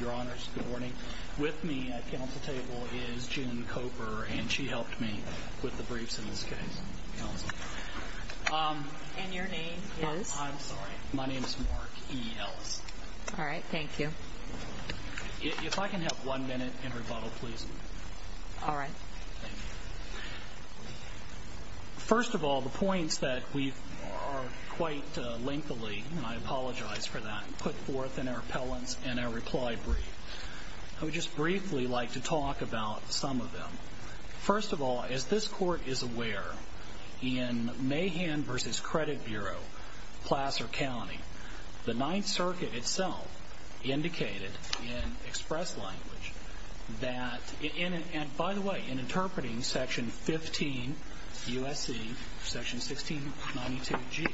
Your honors, good morning. With me at council table is June Koper and she helped me with the briefs in this case. And your name is? I'm sorry, my name is Mark E. Ellis. All right, thank you. If I can have one minute and rebuttal please. All right. First of all, the points that we've quite lengthily, and I apologize for that, put forth in our appellants and our reply brief. I would just briefly like to talk about some of them. First of all, as this court is aware, in Mahan v. Credit Bureau, Placer County, the Ninth Circuit itself indicated in express language that, and by the way, in interpreting Section 15 U.S.C., Section 1692G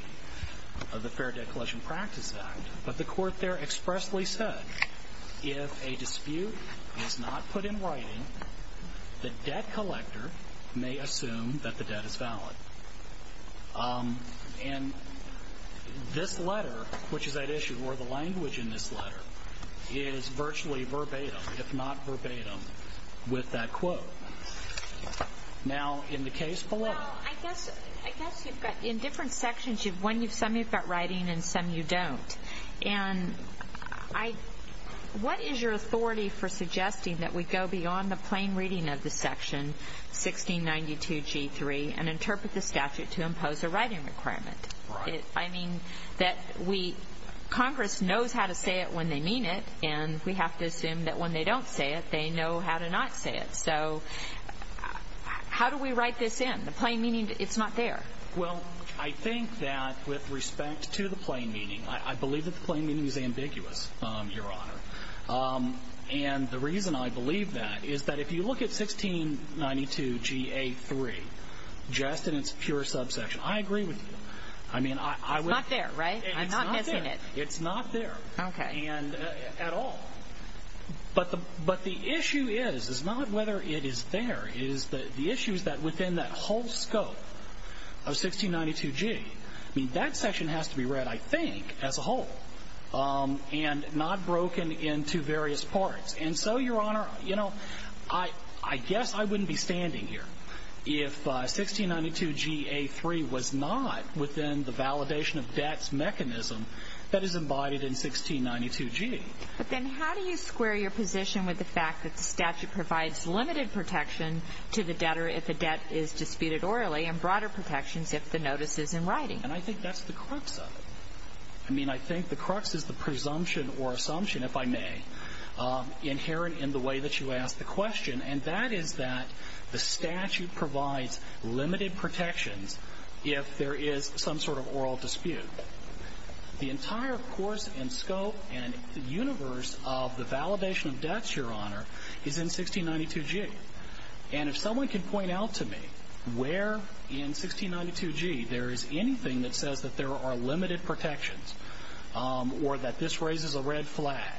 of the Fair Debt Collection Practice Act, but the court there expressly said, if a dispute is not put in writing, the debt collector may assume that the debt is valid. And this letter, which is at issue, or the language in this letter, is virtually verbatim, if not verbatim, with that quote. Now, in the case below. Well, I guess you've got, in different sections, some you've got writing and some you don't. And what is your authority for suggesting that we go beyond the plain reading of the Section 1692G3 and interpret the statute to impose a writing requirement? Right. I mean, that we, Congress knows how to say it when they mean it, and we have to assume that when they don't say it, they know how to not say it. So how do we write this in? The plain meaning, it's not there. Well, I think that with respect to the plain meaning, I believe that the plain meaning is ambiguous, Your Honor. And the reason I believe that is that if you look at 1692GA3, just in its pure subsection, I agree with you. I mean, I would... It's not there, right? I'm not missing it. It's not there. Okay. And at all. But the issue is, is not whether it is there. It is the issues that within that whole scope of 1692G, I mean, that section has to be read, I think, as a whole, and not broken into various parts. And so, Your Honor, you know, I guess I wouldn't be standing here if 1692GA3 was not within the validation of debts mechanism that is embodied in 1692G. But then how do you square your position with the fact that the statute provides limited protection to the debtor if the debt is disputed orally, and broader protections if the notice is in writing? And I think that's the crux of it. I mean, I think the crux is the presumption or assumption, if I may, inherent in the way that you ask the question, and that is that the statute provides limited protections if there is some sort of oral dispute. The entire course and scope and universe of the validation of debts, Your Honor, is in 1692G. And if someone can point out to me where in 1692G there is anything that says that there are limited protections, or that this raises a red flag,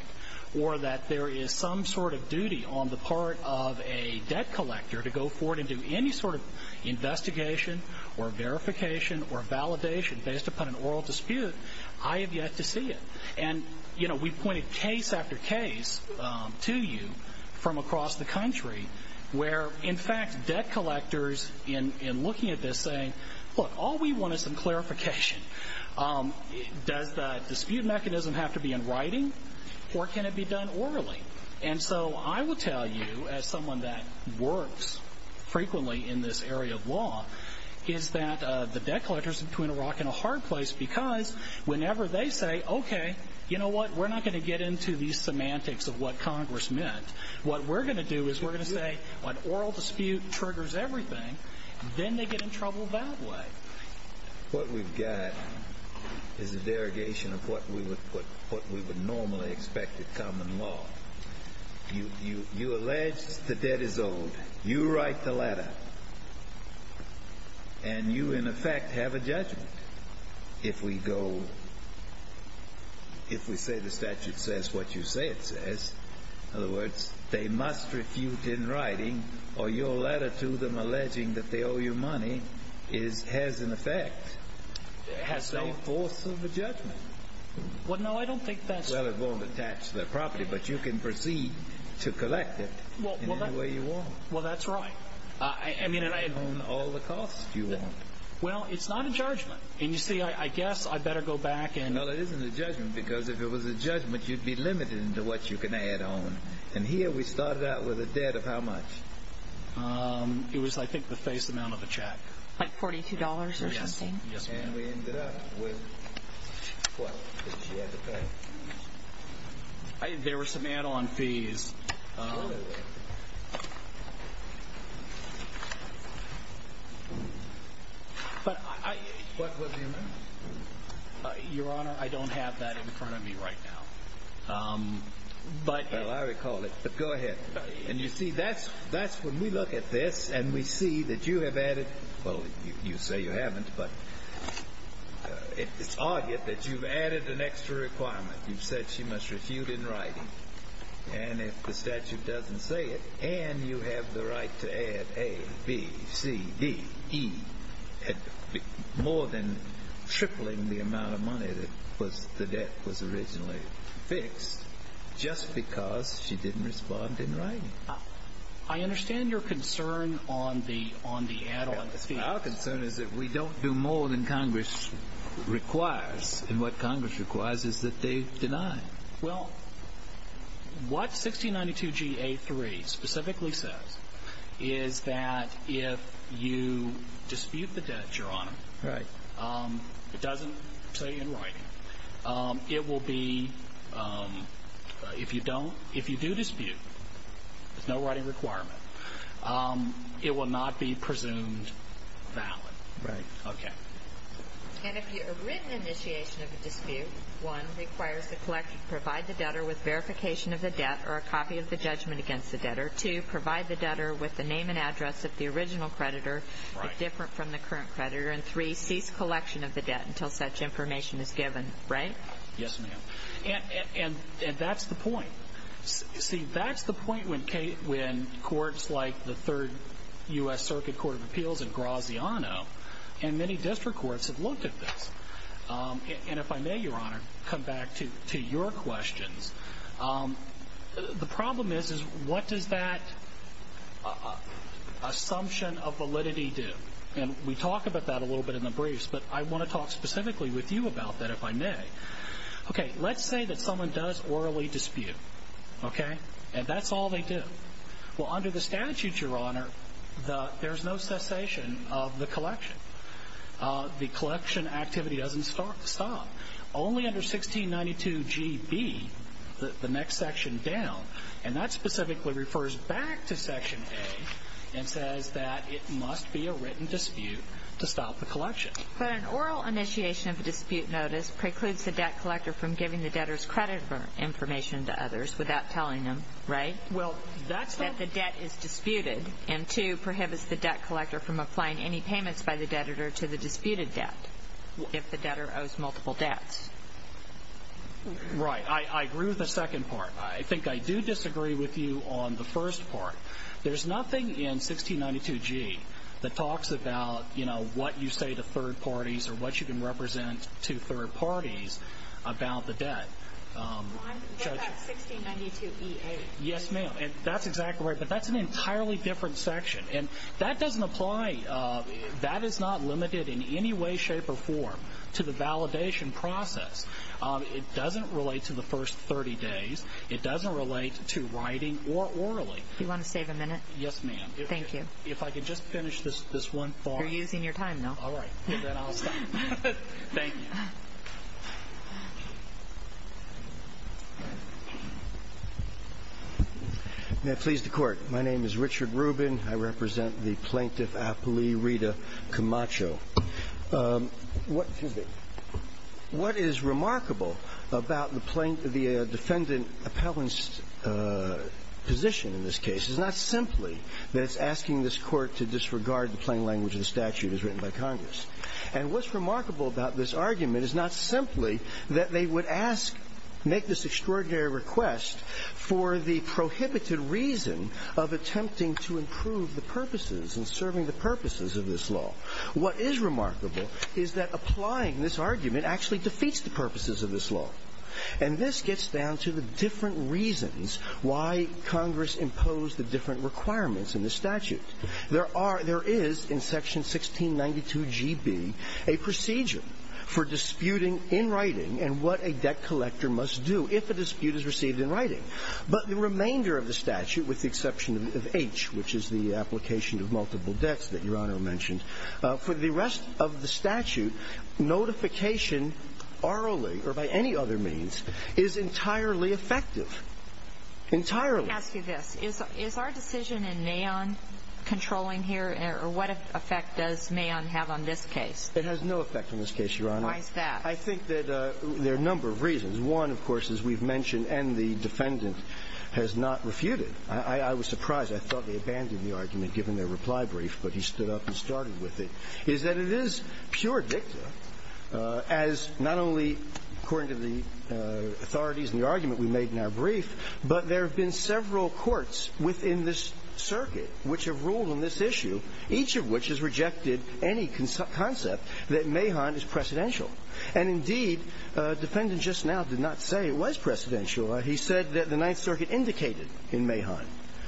or that there is some sort of duty on the part of a debt collector to go forward and do any sort of investigation or verification or validation based upon an oral dispute, I have yet to see it. And, you know, we've pointed case after case to you from across the country where, in fact, debt collectors, in looking at this, saying, look, all we want is some clarification. Does the dispute mechanism have to be in writing, or can it be done orally? And so I will tell you, as someone that works frequently in this area of law, is that the debt collectors are between a rock and a hard place because whenever they say, okay, you know what, we're not going to get into these semantics of what Congress meant. What we're going to do is we're going to say, when oral dispute triggers everything, then they get in trouble that way. What we've got is a derogation of what we would normally expect of common law. You allege the debt is owed. You write the letter. And you, in effect, have a judgment if we go, if we say the statute says what you say it says, in other words, they must refute in writing, or your letter to them alleging that they owe you money is, has an effect, has some force of a judgment. Well, no, I don't think that's... Well, it won't attach to their property, but you can proceed to collect it in any way you want. Well, that's right. I mean, and I... You can own all the costs you want. Well, it's not a judgment. And you see, I guess I'd better go back and... No, it isn't a judgment, because if it was a judgment, you'd be limited into what you can add on. And here we started out with a debt of how much? It was, I think, the face amount of a check. Like $42 or something? Yes, ma'am. And we ended up with, well, she had to pay. There were some add-on fees. But I... But what do you mean? Your Honor, I don't have that in front of me right now. But... Well, I recall it. But go ahead. And you see, that's when we look at this, and we see that you have added, well, you say you haven't, but it's argued that you've added an extra requirement. You've said she must refute in writing. And if the statute doesn't say it, and you have the right to add A, B, C, D, E, more than tripling the amount of money that the debt was originally fixed, just because she didn't respond in writing. I understand your concern on the add-on fees. Our concern is that we don't do more than Congress requires. And what Congress requires is that they deny. Well, what 1692 G.A. 3 specifically says is that if you dispute the debt, Your Honor, it doesn't say in writing, it will be, if you don't, if you do dispute, there's no writing requirement, it will not be presumed valid. Right. Okay. And if a written initiation of a dispute, one, requires the collection, provide the debtor with verification of the debt or a copy of the judgment against the debtor, two, provide the debtor with the name and address of the original creditor, if different from the current creditor, and three, cease collection of the debt until such information is given. Right? Yes, ma'am. And that's the point. See, that's the point when courts like the Third U.S. Circuit Court of Appeals and Graziano and many district courts have looked at this. And if I may, Your Honor, come back to your questions. The problem is, is what does that assumption of validity do? And we talk about that a little bit in the briefs, but I want to talk specifically with you about that, if I may. Okay, let's say that someone does orally dispute. Okay? And that's all they do. Well, under the statutes, Your Honor, there's no cessation of the collection. The collection activity doesn't stop. Only under 1692GB, the next section down, and that specifically refers back to Section A and says that it must be a written dispute to stop the collection. But an oral initiation of a dispute notice precludes the debt collector from giving the debtor's credit information to others without telling them, right? That the debt is disputed and, two, prohibits the debt collector from applying any payments by the debtor to the disputed debt if the debtor owes multiple debts. Right. I agree with the second part. I think I do disagree with you on the first part. There's nothing in 1692G that talks about, you know, what you say to third parties or what you can represent to third parties about the debt. Your Honor, what about 1692EA? Yes, ma'am. That's exactly right. But that's an entirely different section. And that doesn't apply. That is not limited in any way, shape, or form to the validation process. It doesn't relate to the first 30 days. It doesn't relate to writing or orally. Do you want to save a minute? Yes, ma'am. Thank you. If I could just finish this one thought. You're using your time now. All right. Then I'll stop. Thank you. May it please the Court. My name is Richard Rubin. I represent the Plaintiff Appellee Rita Camacho. What is remarkable about the defendant appellant's position in this case is not simply that it's asking this Court to disregard the plain language of the statute as written by Congress. And what's remarkable about this argument is not simply that they would make this extraordinary request for the prohibited reason of attempting to improve the purposes and serving the purposes of this law. What is remarkable is that applying this argument actually defeats the purposes of this law. And this gets down to the different reasons why Congress imposed the different requirements in the statute. There is, in section 1692GB, a procedure for disputing in writing and what a debt collector must do if a dispute is received in writing. But the remainder of the statute, with the exception of H, which is the application of multiple debts that Your Honor mentioned, for the rest of the statute, notification orally or by any other means is entirely effective. Entirely. Let me ask you this. Is our decision in Mahon controlling here? Or what effect does Mahon have on this case? It has no effect on this case, Your Honor. Why is that? I think that there are a number of reasons. One, of course, as we've mentioned, and the defendant has not refuted. I was surprised. I thought they abandoned the argument given their reply brief, but he stood up and started with it. Is that it is pure dicta as not only according to the authorities and the argument we made in our brief, but there have been several courts within this circuit which have ruled on this issue, each of which has rejected any concept that Mahon is precedential. And, indeed, the defendant just now did not say it was precedential. He said that the Ninth Circuit indicated in Mahon.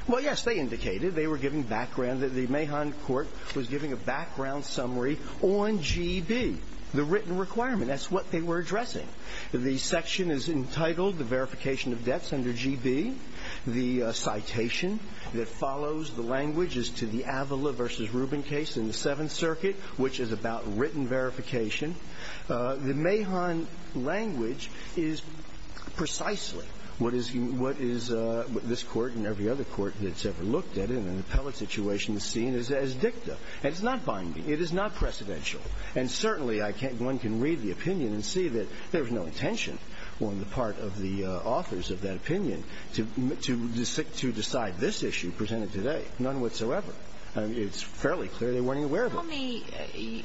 Well, yes, they indicated. They were giving background that the Mahon court was giving a background summary on GB, the written requirement. That's what they were addressing. The section is entitled the verification of debts under GB. The citation that follows the language is to the Avila v. Rubin case in the Seventh Circuit, which is about written verification. The Mahon language is precisely what is this Court and every other court that's ever looked at in an appellate situation is seen as dicta. And it's not binding. It is not precedential. And, certainly, one can read the opinion and see that there was no intention on the part of the authors of that opinion to decide this issue presented today. None whatsoever. It's fairly clear they weren't aware of it. Tell me,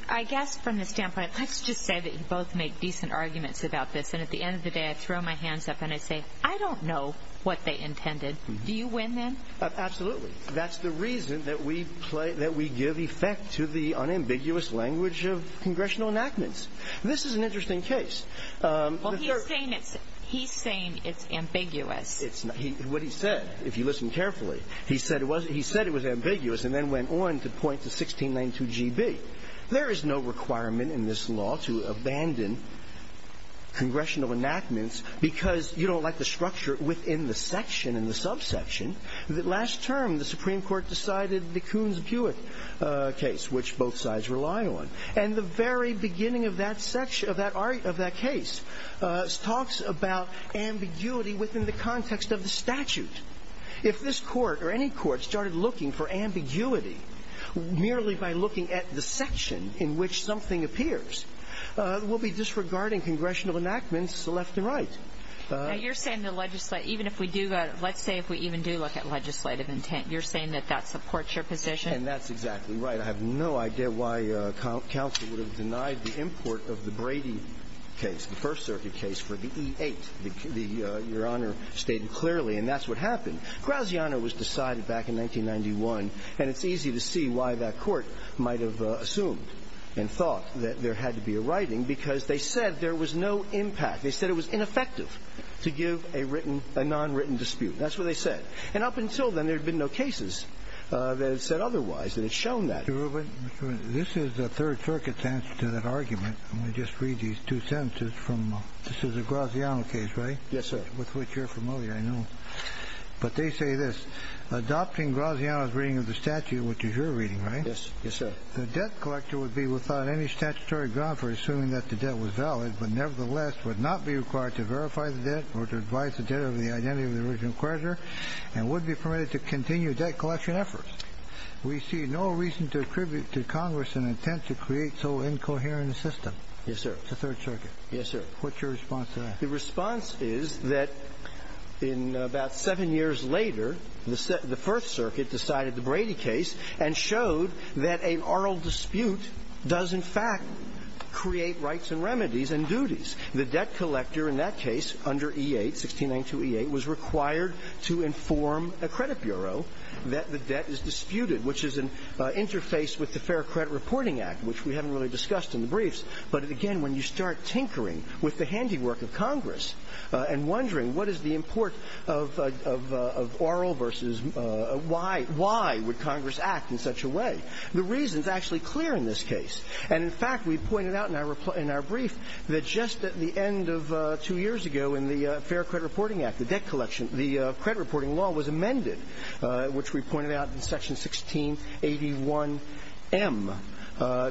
I guess from the standpoint, let's just say that you both make decent arguments about this, and at the end of the day I throw my hands up and I say, I don't know what they intended. Do you win then? Absolutely. That's the reason that we give effect to the unambiguous language of congressional enactments. This is an interesting case. Well, he's saying it's ambiguous. What he said, if you listen carefully, he said it was ambiguous and then went on to point to 1692 GB. There is no requirement in this law to abandon congressional enactments because you don't like the structure within the section and the subsection. Last term the Supreme Court decided the Coons-Bewit case, which both sides rely on. And the very beginning of that case talks about ambiguity within the context of the statute. If this court or any court started looking for ambiguity merely by looking at the section in which something appears, we'll be disregarding congressional enactments left and right. Now, you're saying the legislation, even if we do, let's say if we even do look at legislative intent, you're saying that that supports your position? And that's exactly right. I have no idea why counsel would have denied the import of the Brady case, the First Circuit case for the E-8. Your Honor stated clearly, and that's what happened. Graziano was decided back in 1991, and it's easy to see why that court might have assumed and thought that there had to be a writing because they said there was no impact. They said it was ineffective to give a written, a nonwritten dispute. That's what they said. And up until then, there had been no cases that had said otherwise. And it's shown that. Mr. Rubin, this is the Third Circuit's answer to that argument. I'm going to just read these two sentences from a – this is a Graziano case, right? Yes, sir. With which you're familiar, I know. But they say this. Adopting Graziano's reading of the statute, which is your reading, right? Yes. Yes, sir. The debt collector would be without any statutory ground for assuming that the debt was valid, but nevertheless would not be required to verify the debt or to advise the debtor of the identity of the original creditor and would be permitted to continue debt collection efforts. We see no reason to attribute to Congress an intent to create so incoherent a system. Yes, sir. The Third Circuit. Yes, sir. What's your response to that? The response is that in about seven years later, the First Circuit decided the Brady case and showed that an oral dispute does in fact create rights and remedies and duties. The debt collector in that case under E-8, 1692 E-8, was required to inform a credit bureau that the debt is disputed, which is an interface with the Fair Credit Reporting Act, which we haven't really discussed in the briefs. But again, when you start tinkering with the handiwork of Congress and wondering what is the import of oral versus why would Congress act in such a way, the reason is actually clear in this case. And in fact, we pointed out in our brief that just at the end of two years ago in the Fair Credit Reporting Act, the debt collection, the credit reporting law was amended, which we pointed out in Section 1681M,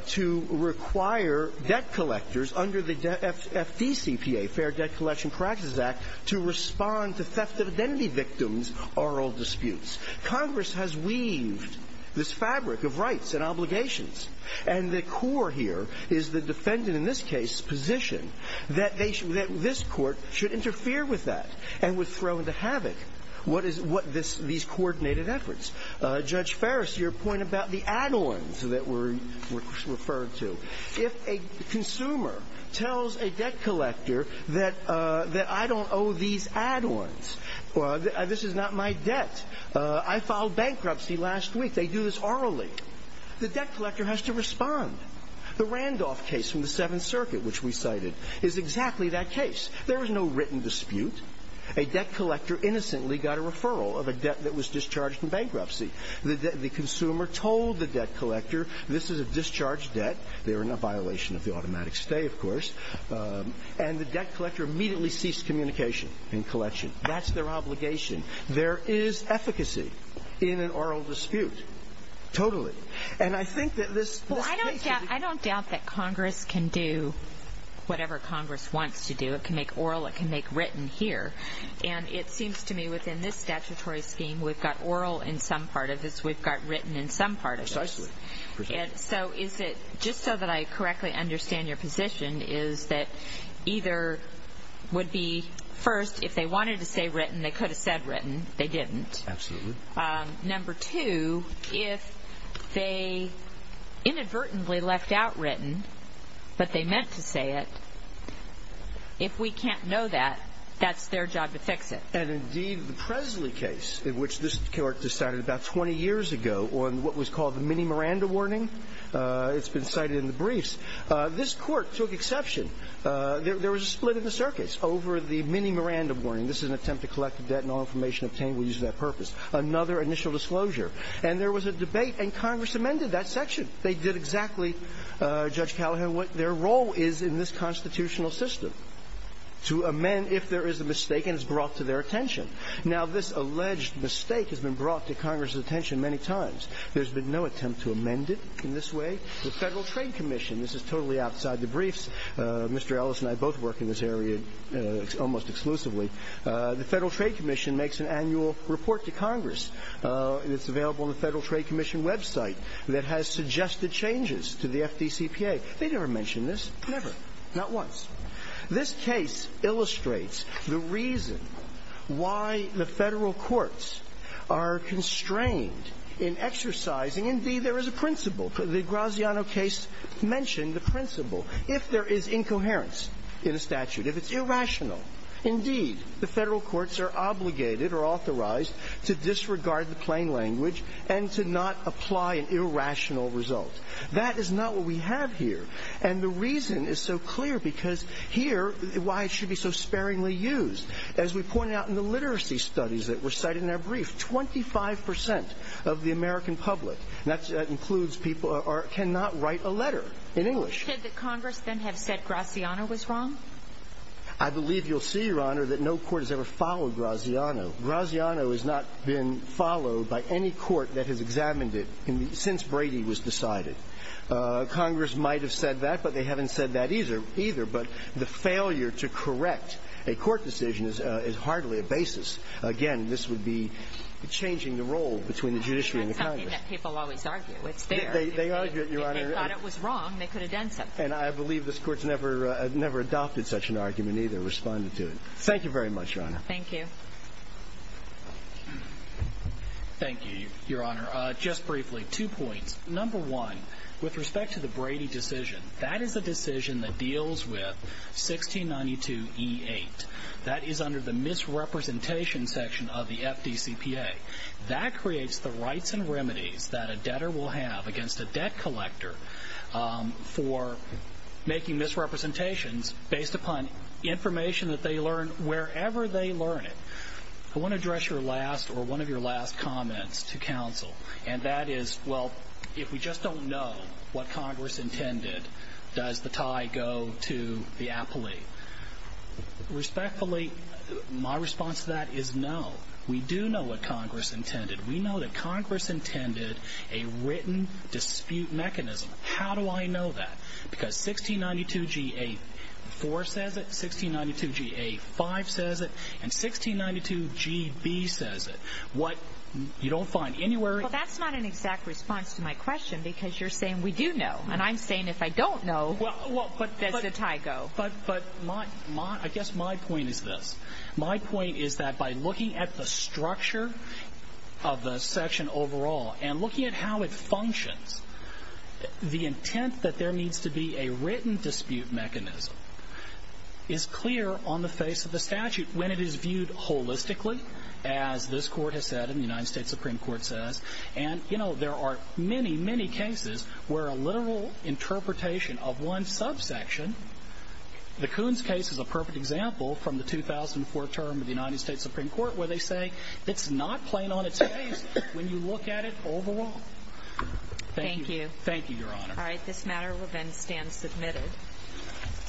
to require debt collectors under the FDCPA, to respond to theft of identity victims, oral disputes. Congress has weaved this fabric of rights and obligations. And the core here is the defendant in this case's position that this court should interfere with that and would throw into havoc what these coordinated efforts. Judge Farris, your point about the add-ons that were referred to, if a consumer tells a debt collector that I don't owe these add-ons, this is not my debt, I filed bankruptcy last week, they do this orally, the debt collector has to respond. The Randolph case from the Seventh Circuit, which we cited, is exactly that case. There is no written dispute. A debt collector innocently got a referral of a debt that was discharged in bankruptcy. The consumer told the debt collector this is a discharged debt, they're in a violation of the automatic stay, of course, and the debt collector immediately ceased communication in collection. That's their obligation. There is efficacy in an oral dispute. Totally. And I think that this case is... Well, I don't doubt that Congress can do whatever Congress wants to do. It can make oral, it can make written here. And it seems to me within this statutory scheme, we've got oral in some part of this, we've got written in some part of this. Precisely. So is it, just so that I correctly understand your position, is that either would be first, if they wanted to say written, they could have said written, they didn't. Absolutely. Number two, if they inadvertently left out written, but they meant to say it, if we can't know that, that's their job to fix it. And indeed, the Presley case, in which this court decided about 20 years ago, on what was called the mini Miranda warning, it's been cited in the briefs, this court took exception. There was a split in the circuits over the mini Miranda warning. This is an attempt to collect the debt and all information obtained will use that purpose. Another initial disclosure. And there was a debate, and Congress amended that section. They did exactly, Judge Callahan, what their role is in this constitutional system, to amend if there is a mistake and it's brought to their attention. Now, this alleged mistake has been brought to Congress' attention many times. There's been no attempt to amend it in this way. The Federal Trade Commission, this is totally outside the briefs. Mr. Ellis and I both work in this area almost exclusively. The Federal Trade Commission makes an annual report to Congress. It's available on the Federal Trade Commission website that has suggested changes to the FDCPA. They never mention this. Never. Not once. This case illustrates the reason why the Federal courts are constrained in exercising indeed, there is a principle. The Graziano case mentioned the principle. If there is incoherence in a statute, if it's irrational, indeed, the Federal courts are obligated or authorized to disregard the plain language and to not apply an irrational result. That is not what we have here. And the reason is so clear because here, why it should be so sparingly used. As we pointed out in the literacy studies that were cited in that brief, 25% of the American public, that includes people, cannot write a letter in English. Should the Congress then have said Graziano was wrong? I believe you'll see, Your Honor, that no court has ever followed Graziano. Graziano has not been followed by any court that has examined it since Brady was decided. Congress might have said that, but they haven't said that either. But the failure to correct a court decision is hardly a basis. Again, this would be changing the role between the judiciary and the Congress. That's something that people always argue. It's there. They argue it, Your Honor. If they thought it was wrong, they could have done something. And I believe this Court's never adopted such an argument either, responded to it. Thank you very much, Your Honor. Thank you. Thank you, Your Honor. Your Honor, just briefly, two points. Number one, with respect to the Brady decision, that is a decision that deals with 1692E8. That is under the misrepresentation section of the FDCPA. That creates the rights and remedies that a debtor will have against a debt collector for making misrepresentations based upon information that they learn wherever they learn it. I want to address your last or one of your last comments to counsel. And that is, well, if we just don't know what Congress intended, does the tie go to the appellee? Respectfully, my response to that is no. We do know what Congress intended. We know that Congress intended a written dispute mechanism. How do I know that? Because 1692G8-4 says it, 1692G8-5 says it, and 1692G-B says it. What you don't find anywhere. Well, that's not an exact response to my question because you're saying we do know. And I'm saying if I don't know, where does the tie go? But I guess my point is this. My point is that by looking at the structure of the section overall and looking at how it functions, the intent that there needs to be a written dispute mechanism is clear on the face of the statute when it is viewed holistically, as this Court has said and the United States Supreme Court says. And, you know, there are many, many cases where a literal interpretation of one subsection, the Coons case is a perfect example from the 2004 term of the United States Supreme Court where they say it's not plain on its face when you look at it overall. Thank you. Thank you, Your Honor. All right. This matter will then stand submitted.